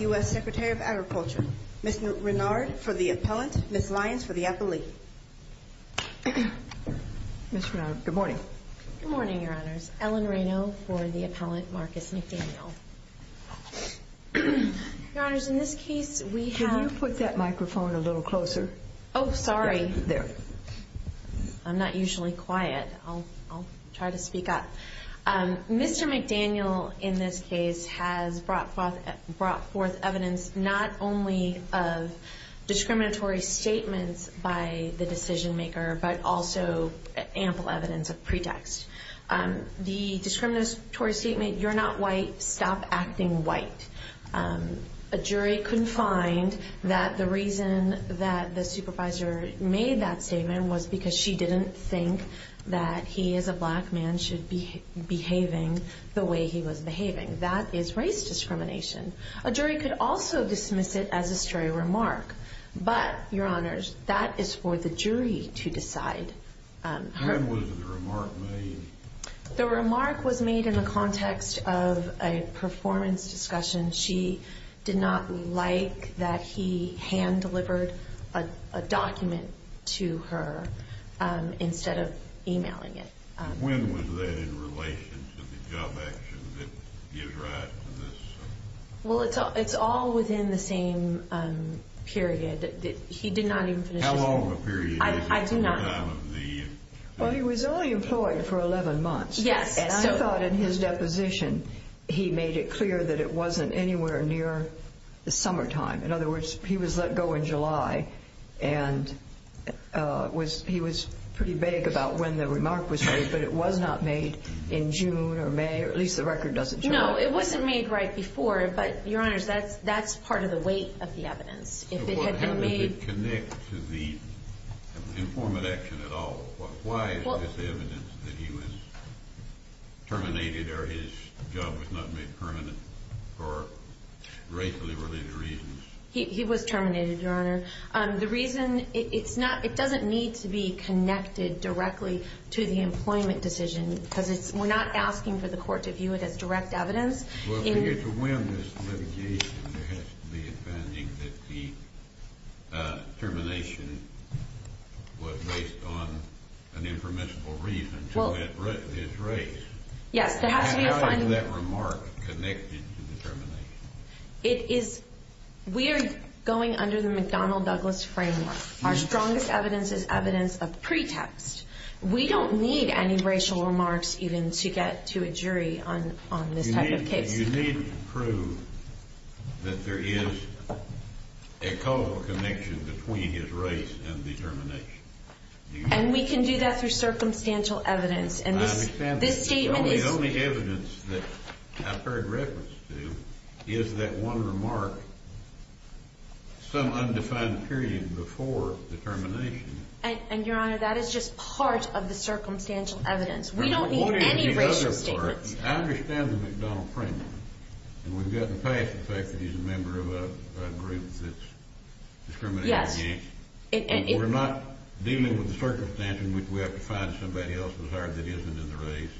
U.S. Secretary of Agriculture. Ms. Renard for the appellant, Ms. Lyons for the appellee. Ms. Renard, good morning. Good morning, Your Honors. Ellen Reno for the appellant, Marcus McDaniel. Your Honors, in this case we have... Can you put that microphone a little closer? Oh, sorry. There. I'm not used to this. I'm not used to this. I'm not used to this. I'm not usually quiet. I'll try to speak up. Mr. McDaniel, in this case, has brought forth evidence not only of discriminatory statements by the decision maker, but also ample evidence of pretext. The discriminatory statement, you're not white, stop acting white. A jury couldn't find that the reason that the supervisor made that statement was because she didn't think that he, as a black man, should be behaving the way he was behaving. That is race discrimination. A jury could also dismiss it as a stray remark. But, Your Honors, that is for the jury to decide. When was the remark made? The remark was made in the context of a performance discussion. She did not like that he hand-delivered a document to her instead of emailing it. When was that in relation to the job action that gives rise to this? Well, it's all within the same period. He did not even finish his... How long of a period? I do not know. Well, he was only employed for 11 months. Yes. And I thought in his deposition he made it clear that it wasn't anywhere near the summertime. In other words, he was let go in July, and he was pretty vague about when the remark was made, but it was not made in June or May, or at least the record doesn't show it. No, it wasn't made right before, but, Your Honors, that's part of the weight of the evidence. How does it connect to the informant action at all? Why is this evidence that he was terminated or his job was not made permanent for racially related reasons? He was terminated, Your Honor. The reason, it doesn't need to be connected directly to the employment decision because we're not asking for the court to view it as direct evidence. Well, for you to win this litigation, there has to be a finding that the termination was based on an impermissible reason to this race. Yes, there has to be a finding. How is that remark connected to the termination? We are going under the McDonnell-Douglas framework. Our strongest evidence is evidence of pretext. We don't need any racial remarks even to get to a jury on this type of case. You need to prove that there is a causal connection between his race and the termination. And we can do that through circumstantial evidence. I understand that. The only evidence that I've heard reference to is that one remark, some undefined period before the termination. And, Your Honor, that is just part of the circumstantial evidence. We don't need any racial statements. I understand the McDonnell framework. And we've gotten past the fact that he's a member of a group that's discriminated against. We're not dealing with the circumstance in which we have to find somebody else who's hired that isn't in the race.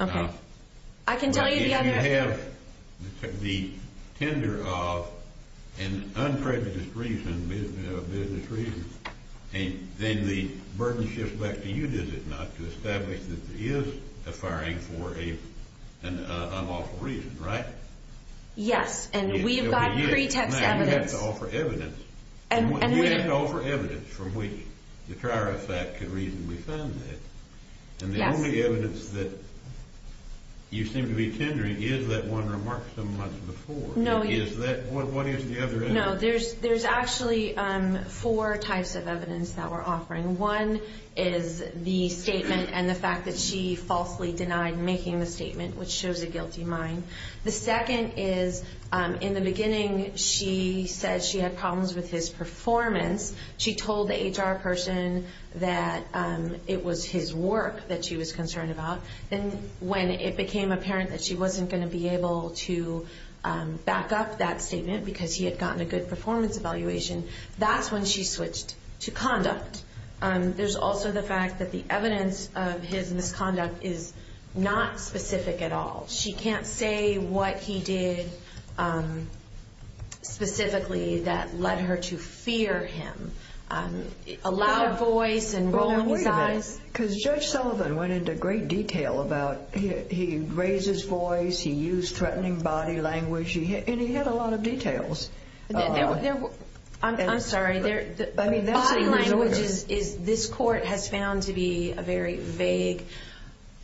If you have the tender of an unprejudiced reason, a business reason, then the burden shifts back to you, does it not, to establish that there is a firing for an unlawful reason, right? Yes, and we've got pretext evidence. Now, you have to offer evidence. You have to offer evidence from which the trier of fact could reasonably find that. And the only evidence that you seem to be tendering is that one remark some months before. What is the other evidence? No, there's actually four types of evidence that we're offering. One is the statement and the fact that she falsely denied making the statement, which shows a guilty mind. The second is, in the beginning, she said she had problems with his performance. She told the HR person that it was his work that she was concerned about. And when it became apparent that she wasn't going to be able to back up that statement because he had gotten a good performance evaluation, that's when she switched to conduct. There's also the fact that the evidence of his misconduct is not specific at all. She can't say what he did specifically that led her to fear him. A loud voice and rolling eyes. Wait a minute, because Judge Sullivan went into great detail about he raised his voice, he used threatening body language, and he had a lot of details. I'm sorry. Body language, this court has found to be a very vague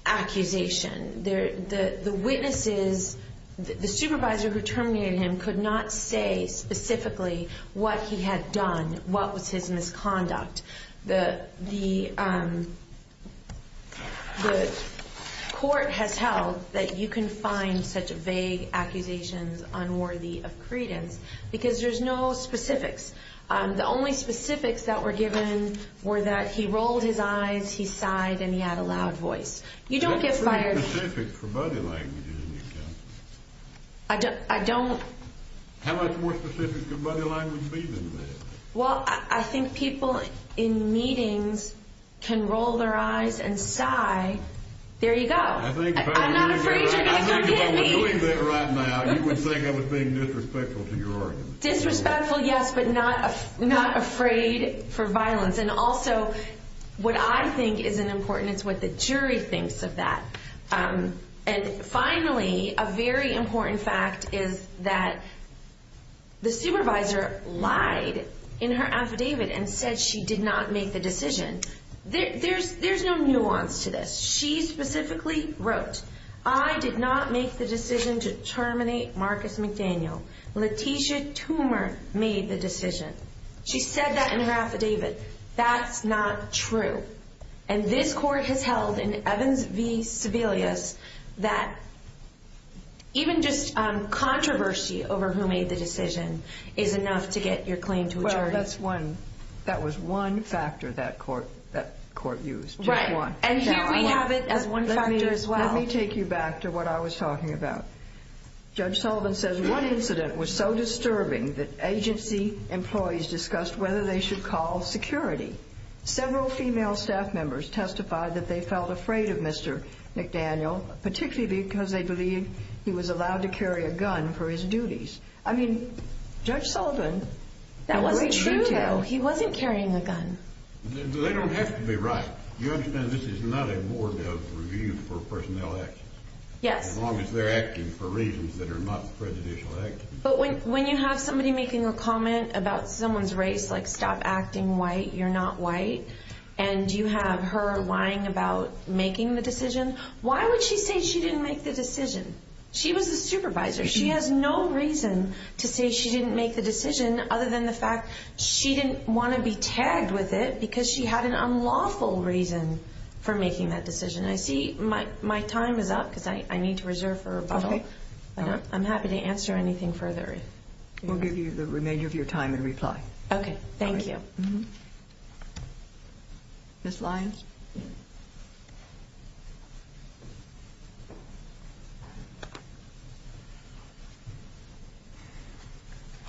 accusation. The witnesses, the supervisor who terminated him could not say specifically what he had done, what was his misconduct. The court has held that you can find such vague accusations unworthy of credence because there's no specifics. The only specifics that were given were that he rolled his eyes, he sighed, and he had a loud voice. You don't get fired. How much more specific can body language be than that? Well, I think people in meetings can roll their eyes and sigh. There you go. I'm not afraid you're going to come get me. If I was doing that right now, you would think I was being disrespectful to your argument. Disrespectful, yes, but not afraid for violence. And also, what I think is important is what the jury thinks of that. And finally, a very important fact is that the supervisor lied in her affidavit and said she did not make the decision. There's no nuance to this. She specifically wrote, I did not make the decision to terminate Marcus McDaniel. Letitia Toomer made the decision. She said that in her affidavit. That's not true. And this court has held in Evans v. Sebelius that even just controversy over who made the decision is enough to get your claim to a jury. Well, that was one factor that court used. Right. And here we have it as one factor as well. Let me take you back to what I was talking about. Judge Sullivan says one incident was so disturbing that agency employees discussed whether they should call security. Several female staff members testified that they felt afraid of Mr. McDaniel, particularly because they believed he was allowed to carry a gun for his duties. I mean, Judge Sullivan. That wasn't true, though. He wasn't carrying a gun. They don't have to be right. You understand this is not a board of review for personnel actions. Yes. As long as they're acting for reasons that are not prejudicial. But when you have somebody making a comment about someone's race, like stop acting white, you're not white. And you have her lying about making the decision. Why would she say she didn't make the decision? She was the supervisor. She has no reason to say she didn't make the decision other than the fact she didn't want to be tagged with it because she had an unlawful reason for making that decision. I see my time is up because I need to reserve for rebuttal. I'm happy to answer anything further. We'll give you the remainder of your time in reply. Okay. Thank you. Ms. Lyons.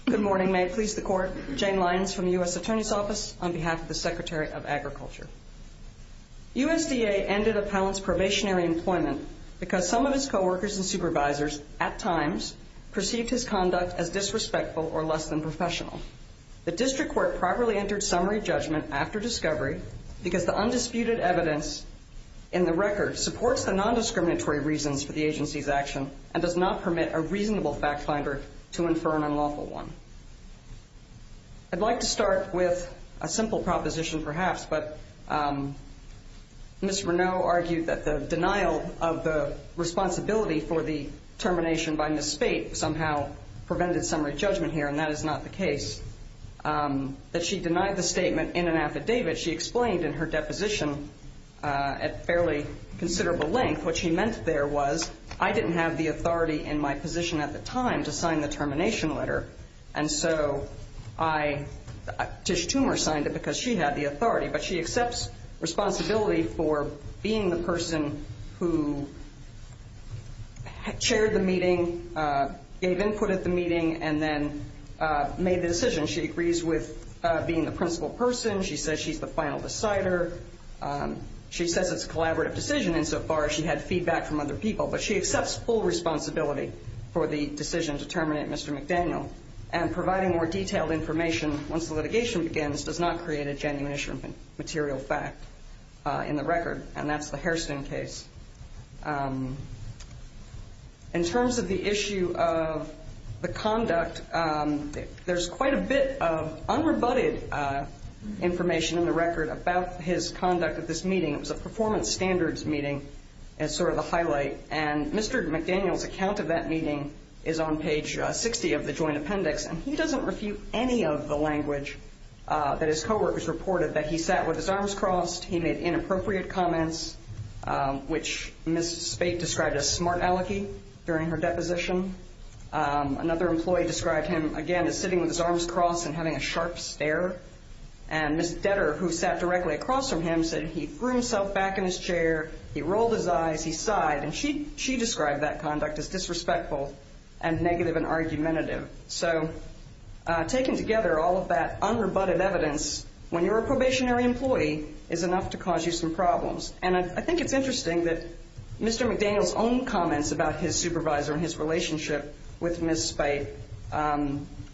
Good morning. May it please the Court. Jane Lyons from the U.S. Attorney's Office on behalf of the Secretary of Agriculture. USDA ended Appellant's probationary employment because some of his coworkers and supervisors, at times, perceived his conduct as disrespectful or less than professional. The district court properly entered summary judgment after discovery because the undisputed evidence in the record supports the nondiscriminatory reasons for the agency's action and does not permit a reasonable fact finder to infer an unlawful one. I'd like to start with a simple proposition, perhaps. But Ms. Reneau argued that the denial of the responsibility for the termination by Ms. Spate somehow prevented summary judgment here, and that is not the case. That she denied the statement in an affidavit she explained in her deposition at fairly considerable length. What she meant there was I didn't have the authority in my position at the time to sign the termination letter. And so Tish Toomer signed it because she had the authority. But she accepts responsibility for being the person who chaired the meeting, gave input at the meeting, and then made the decision. She agrees with being the principal person. She says she's the final decider. She says it's a collaborative decision insofar as she had feedback from other people. But she accepts full responsibility for the decision to terminate Mr. McDaniel. And providing more detailed information once the litigation begins does not create a genuine issue of material fact in the record. And that's the Hairston case. In terms of the issue of the conduct, there's quite a bit of unrebutted information in the record about his conduct at this meeting. It was a performance standards meeting as sort of the highlight. And Mr. McDaniel's account of that meeting is on page 60 of the joint appendix. And he doesn't refute any of the language that his co-workers reported, that he sat with his arms crossed, he made inappropriate comments, which Ms. Spate described as smart-alecky during her deposition. Another employee described him, again, as sitting with his arms crossed and having a sharp stare. And Ms. Detter, who sat directly across from him, said he threw himself back in his chair, he rolled his eyes, he sighed. And she described that conduct as disrespectful and negative and argumentative. So taken together, all of that unrebutted evidence, when you're a probationary employee, is enough to cause you some problems. And I think it's interesting that Mr. McDaniel's own comments about his supervisor and his relationship with Ms. Spate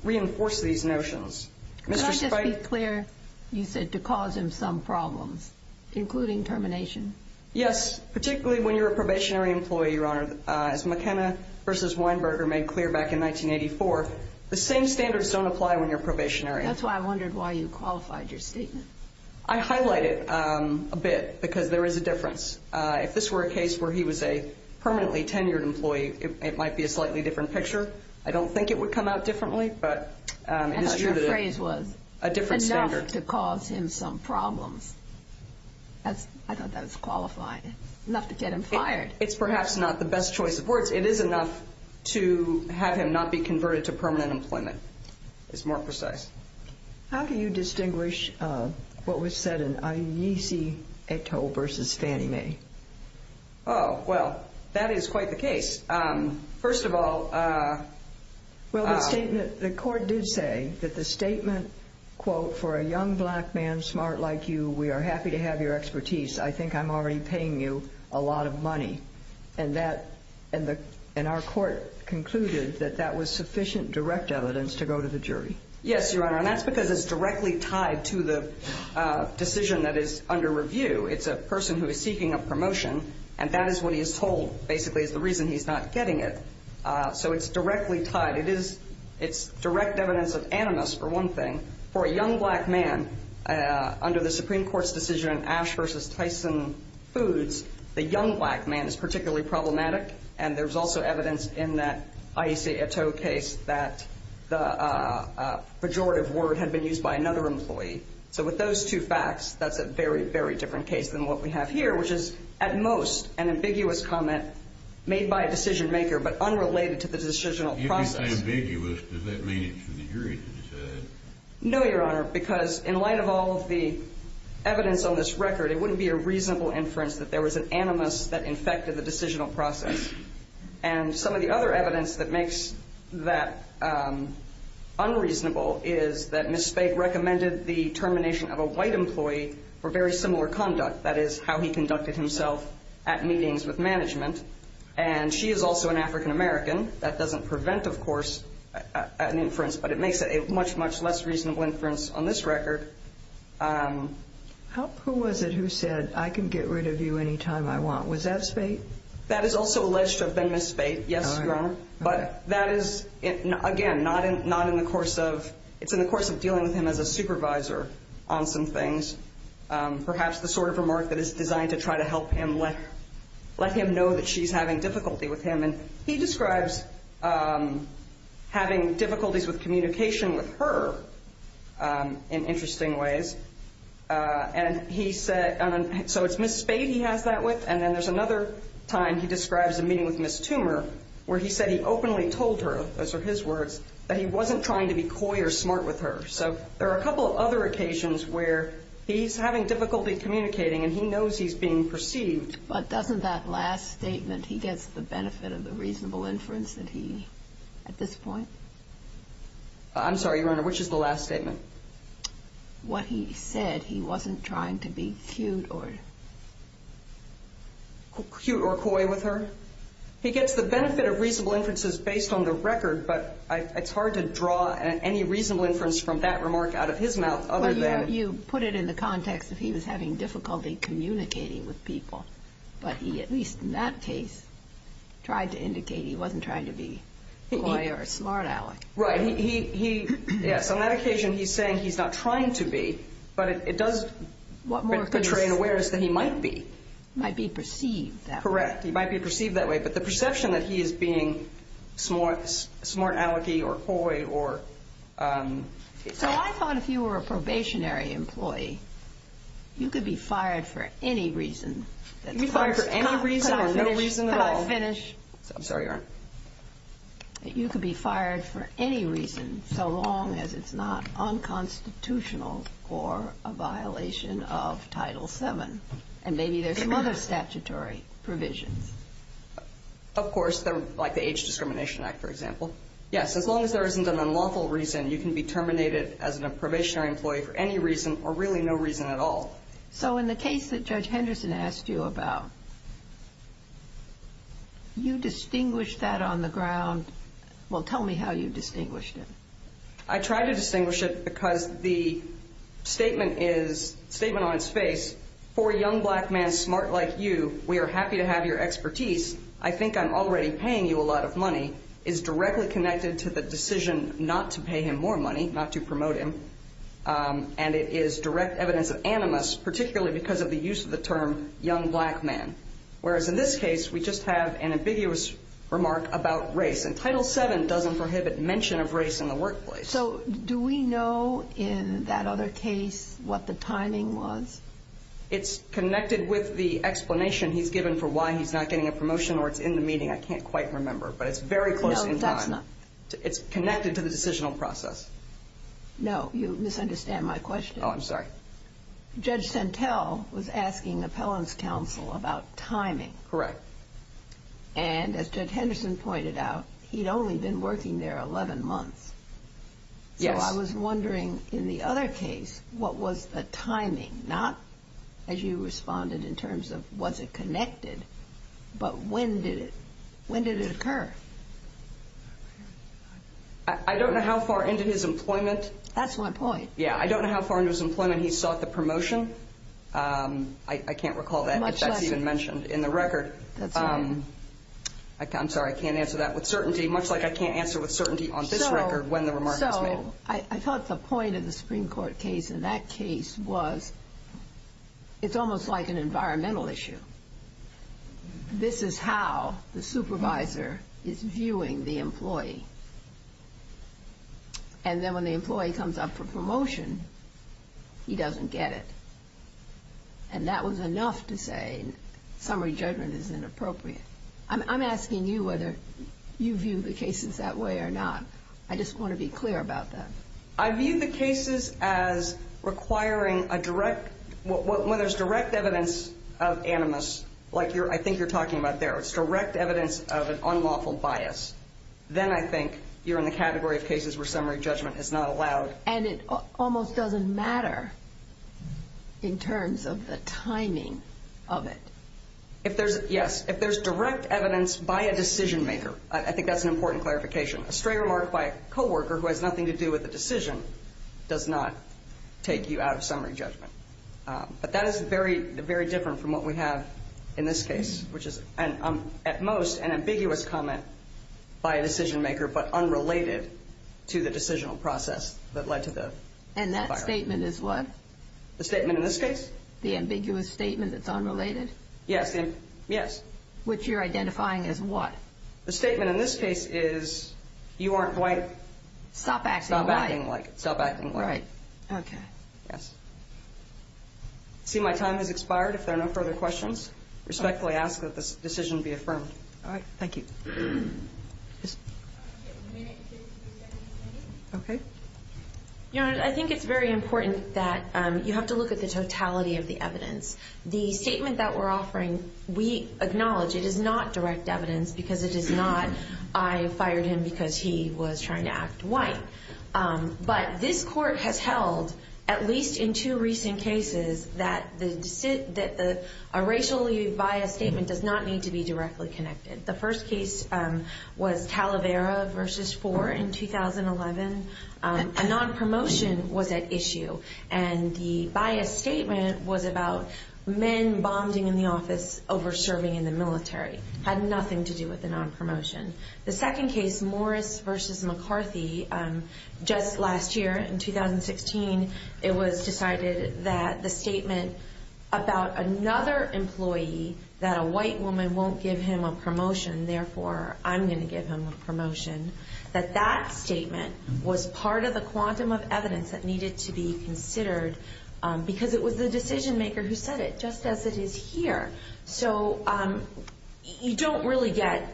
reinforce these notions. Could I just be clear, you said, to cause him some problems, including termination? Yes, particularly when you're a probationary employee, Your Honor. As McKenna v. Weinberger made clear back in 1984, the same standards don't apply when you're a probationary. That's why I wondered why you qualified your statement. I highlighted it a bit, because there is a difference. If this were a case where he was a permanently tenured employee, it might be a slightly different picture. I don't think it would come out differently, but it is true that it is a different standard. I thought your phrase was, enough to cause him some problems. I thought that was qualified, enough to get him fired. It's perhaps not the best choice of words. It is enough to have him not be converted to permanent employment. It's more precise. How do you distinguish what was said in Agnese Eto'o v. Fannie Mae? Oh, well, that is quite the case. First of all, for a young black man smart like you, we are happy to have your expertise. I think I'm already paying you a lot of money. And our court concluded that that was sufficient direct evidence to go to the jury. Yes, Your Honor, and that's because it's directly tied to the decision that is under review. It's a person who is seeking a promotion, and that is what he is told, basically, is the reason he's not getting it. So it's directly tied. It's direct evidence of animus, for one thing. For a young black man, under the Supreme Court's decision, Ash v. Tyson Foods, the young black man is particularly problematic, and there's also evidence in that Agnese Eto'o case that the pejorative word had been used by another employee. So with those two facts, that's a very, very different case than what we have here, which is at most an ambiguous comment made by a decision-maker but unrelated to the decisional process. If it's ambiguous, does that mean it's for the jury to decide? No, Your Honor, because in light of all of the evidence on this record, it wouldn't be a reasonable inference that there was an animus that infected the decisional process. And some of the other evidence that makes that unreasonable is that Ms. Speight recommended the termination of a white employee for very similar conduct. That is, how he conducted himself at meetings with management. And she is also an African-American. That doesn't prevent, of course, an inference, but it makes it a much, much less reasonable inference on this record. Who was it who said, I can get rid of you any time I want? Was that Speight? That is also alleged to have been Ms. Speight, yes, Your Honor. But that is, again, not in the course of – it's in the course of dealing with him as a supervisor on some things. Perhaps the sort of remark that is designed to try to help him let him know that she's having difficulty with him. And he describes having difficulties with communication with her in interesting ways. And he said – so it's Ms. Speight he has that with? And then there's another time he describes a meeting with Ms. Toomer where he said he openly told her, those are his words, that he wasn't trying to be coy or smart with her. So there are a couple of other occasions where he's having difficulty communicating and he knows he's being perceived. But doesn't that last statement, he gets the benefit of the reasonable inference that he – at this point? I'm sorry, Your Honor, which is the last statement? What he said, he wasn't trying to be cute or – Cute or coy with her? He gets the benefit of reasonable inferences based on the record, but it's hard to draw any reasonable inference from that remark out of his mouth other than – Well, you put it in the context that he was having difficulty communicating with people. But he, at least in that case, tried to indicate he wasn't trying to be coy or smart, Alec. Right. He – yes. On that occasion, he's saying he's not trying to be, but it does portray an awareness that he might be. Might be perceived that way. Correct. He might be perceived that way, but the perception that he is being smart Alec-y or coy or – So I thought if you were a probationary employee, you could be fired for any reason. You could be fired for any reason or no reason at all. Could I finish? I'm sorry, Your Honor. You could be fired for any reason so long as it's not unconstitutional or a violation of Title VII. And maybe there's some other statutory provisions. Of course, like the Age Discrimination Act, for example. Yes, as long as there isn't an unlawful reason, you can be terminated as a probationary employee for any reason or really no reason at all. So in the case that Judge Henderson asked you about, you distinguished that on the ground – well, tell me how you distinguished it. I tried to distinguish it because the statement on its face, for a young black man smart like you, we are happy to have your expertise. I think I'm already paying you a lot of money, is directly connected to the decision not to pay him more money, not to promote him. And it is direct evidence of animus, particularly because of the use of the term young black man. Whereas in this case, we just have an ambiguous remark about race. And Title VII doesn't prohibit mention of race in the workplace. So do we know in that other case what the timing was? It's connected with the explanation he's given for why he's not getting a promotion or it's in the meeting. I can't quite remember, but it's very close in time. No, that's not. It's connected to the decisional process. No, you misunderstand my question. Oh, I'm sorry. Judge Santel was asking appellant's counsel about timing. Correct. And as Judge Henderson pointed out, he'd only been working there 11 months. Yes. So I was wondering in the other case, what was the timing? Not as you responded in terms of was it connected, but when did it occur? I don't know how far into his employment. That's my point. Yeah, I don't know how far into his employment he sought the promotion. I can't recall that. Much less. It's not even mentioned in the record. That's right. I'm sorry. I can't answer that with certainty, much like I can't answer with certainty on this record when the remark was made. So I thought the point of the Supreme Court case in that case was it's almost like an environmental issue. This is how the supervisor is viewing the employee. And then when the employee comes up for promotion, he doesn't get it. And that was enough to say summary judgment is inappropriate. I'm asking you whether you view the cases that way or not. I just want to be clear about that. I view the cases as requiring a direct – when there's direct evidence of animus, like I think you're talking about there, it's direct evidence of an unlawful bias. Then I think you're in the category of cases where summary judgment is not allowed. And it almost doesn't matter in terms of the timing of it. Yes. If there's direct evidence by a decision maker, I think that's an important clarification. A stray remark by a coworker who has nothing to do with the decision does not take you out of summary judgment. But that is very, very different from what we have in this case, which is at most an ambiguous comment by a decision maker but unrelated to the decisional process that led to the firing. And that statement is what? The statement in this case? The ambiguous statement that's unrelated? Yes. Which you're identifying as what? The statement in this case is you aren't quite – Stop acting like it. Stop acting like it. Right. Okay. Yes. I see my time has expired. If there are no further questions, respectfully ask that this decision be affirmed. All right. Thank you. Yes. Okay. Your Honor, I think it's very important that you have to look at the totality of the evidence. The statement that we're offering, we acknowledge it is not direct evidence because it is not, I fired him because he was trying to act white. But this court has held, at least in two recent cases, that a racially biased statement does not need to be directly connected. The first case was Talavera v. Four in 2011. A nonpromotion was at issue, and the biased statement was about men bombing in the office over serving in the military. It had nothing to do with the nonpromotion. The second case, Morris v. McCarthy, just last year in 2016, it was decided that the statement about another employee, that a white woman won't give him a promotion, therefore I'm going to give him a promotion, that that statement was part of the quantum of evidence that needed to be considered because it was the decision maker who said it, just as it is here. So you don't really get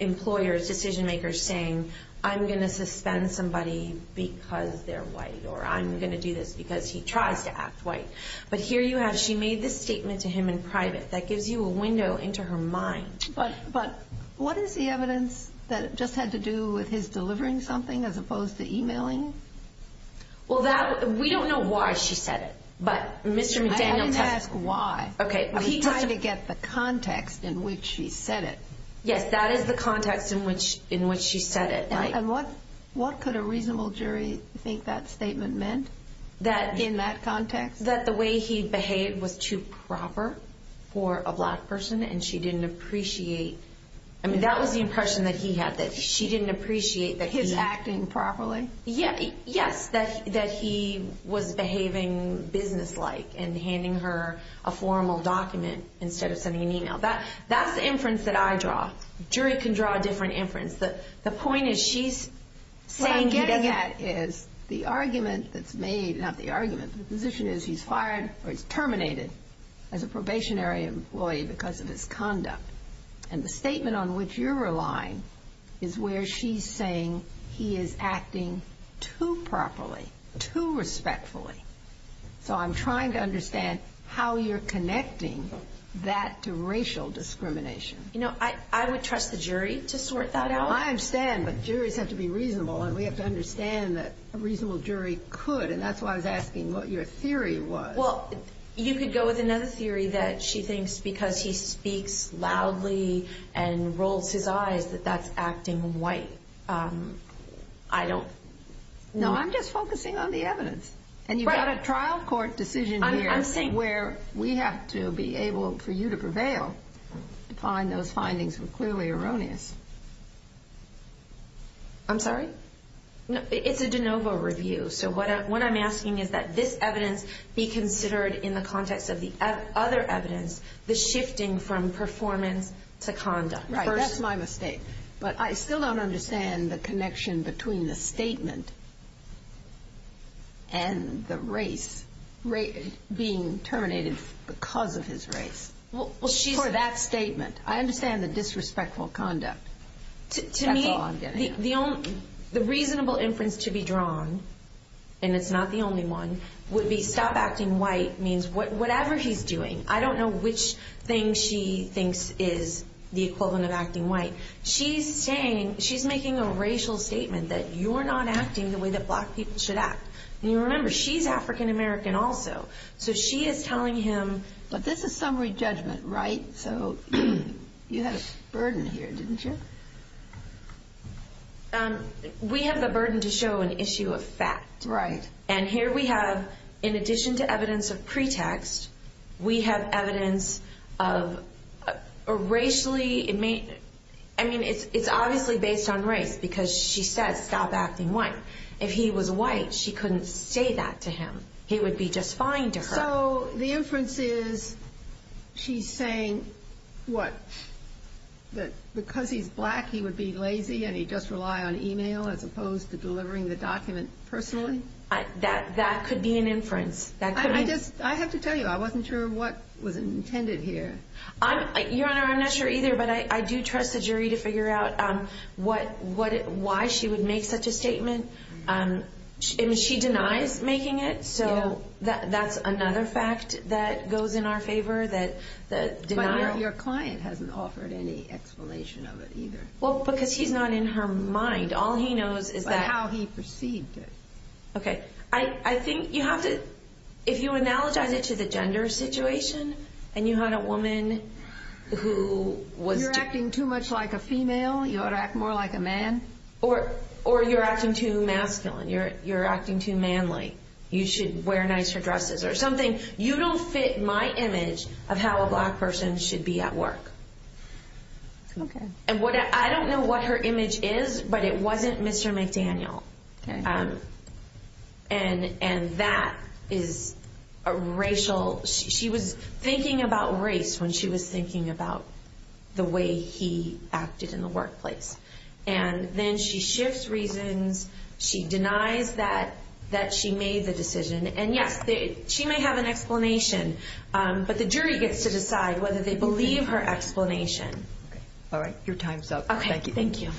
employers, decision makers saying, I'm going to suspend somebody because they're white, or I'm going to do this because he tries to act white. That gives you a window into her mind. But what is the evidence that just had to do with his delivering something as opposed to emailing? Well, we don't know why she said it. I didn't ask why. He tried to get the context in which she said it. Yes, that is the context in which she said it. That the way he behaved was too proper for a black person, and she didn't appreciate, I mean, that was the impression that he had, that she didn't appreciate that he... His acting properly? Yes, that he was behaving businesslike and handing her a formal document instead of sending an email. That's the inference that I draw. A jury can draw a different inference. The point is she's saying he doesn't... What I'm getting at is the argument that's made, not the argument, the position is he's fired or he's terminated as a probationary employee because of his conduct. And the statement on which you're relying is where she's saying he is acting too properly, too respectfully. So I'm trying to understand how you're connecting that to racial discrimination. You know, I would trust the jury to sort that out. I understand, but juries have to be reasonable, and we have to understand that a reasonable jury could, and that's why I was asking what your theory was. Well, you could go with another theory that she thinks, because he speaks loudly and rolls his eyes, that that's acting white. I don't... No, I'm just focusing on the evidence. And you've got a trial court decision here where we have to be able for you to prevail to find those findings were clearly erroneous. I'm sorry? It's a de novo review. So what I'm asking is that this evidence be considered in the context of the other evidence, the shifting from performance to conduct. That's my mistake. But I still don't understand the connection between the statement and the race, being terminated because of his race for that statement. That's all I'm getting at. The reasonable inference to be drawn, and it's not the only one, would be stop acting white means whatever he's doing. I don't know which thing she thinks is the equivalent of acting white. She's saying, she's making a racial statement that you're not acting the way that black people should act. And you remember, she's African American also, so she is telling him... But this is summary judgment, right? So you had a burden here, didn't you? We have the burden to show an issue of fact. Right. And here we have, in addition to evidence of pretext, we have evidence of racially... I mean, it's obviously based on race because she says stop acting white. If he was white, she couldn't say that to him. He would be just fine to her. So the inference is she's saying what? That because he's black, he would be lazy and he'd just rely on e-mail as opposed to delivering the document personally? That could be an inference. I have to tell you, I wasn't sure what was intended here. Your Honor, I'm not sure either, but I do trust the jury to figure out why she would make such a statement. I mean, she denies making it, so that's another fact that goes in our favor, that denial... Your client hasn't offered any explanation of it either. Well, because he's not in her mind. All he knows is that... But how he perceived it. Okay. I think you have to... If you analogize it to the gender situation and you had a woman who was... You're acting too much like a female. You ought to act more like a man. Or you're acting too masculine. You're acting too manly. You should wear nicer dresses or something. You don't fit my image of how a black person should be at work. Okay. I don't know what her image is, but it wasn't Mr. McDaniel. Okay. And that is a racial... She was thinking about race when she was thinking about the way he acted in the workplace. And then she shifts reasons. She denies that she made the decision. And, yes, she may have an explanation. But the jury gets to decide whether they believe her explanation. All right. Your time's up. Thank you.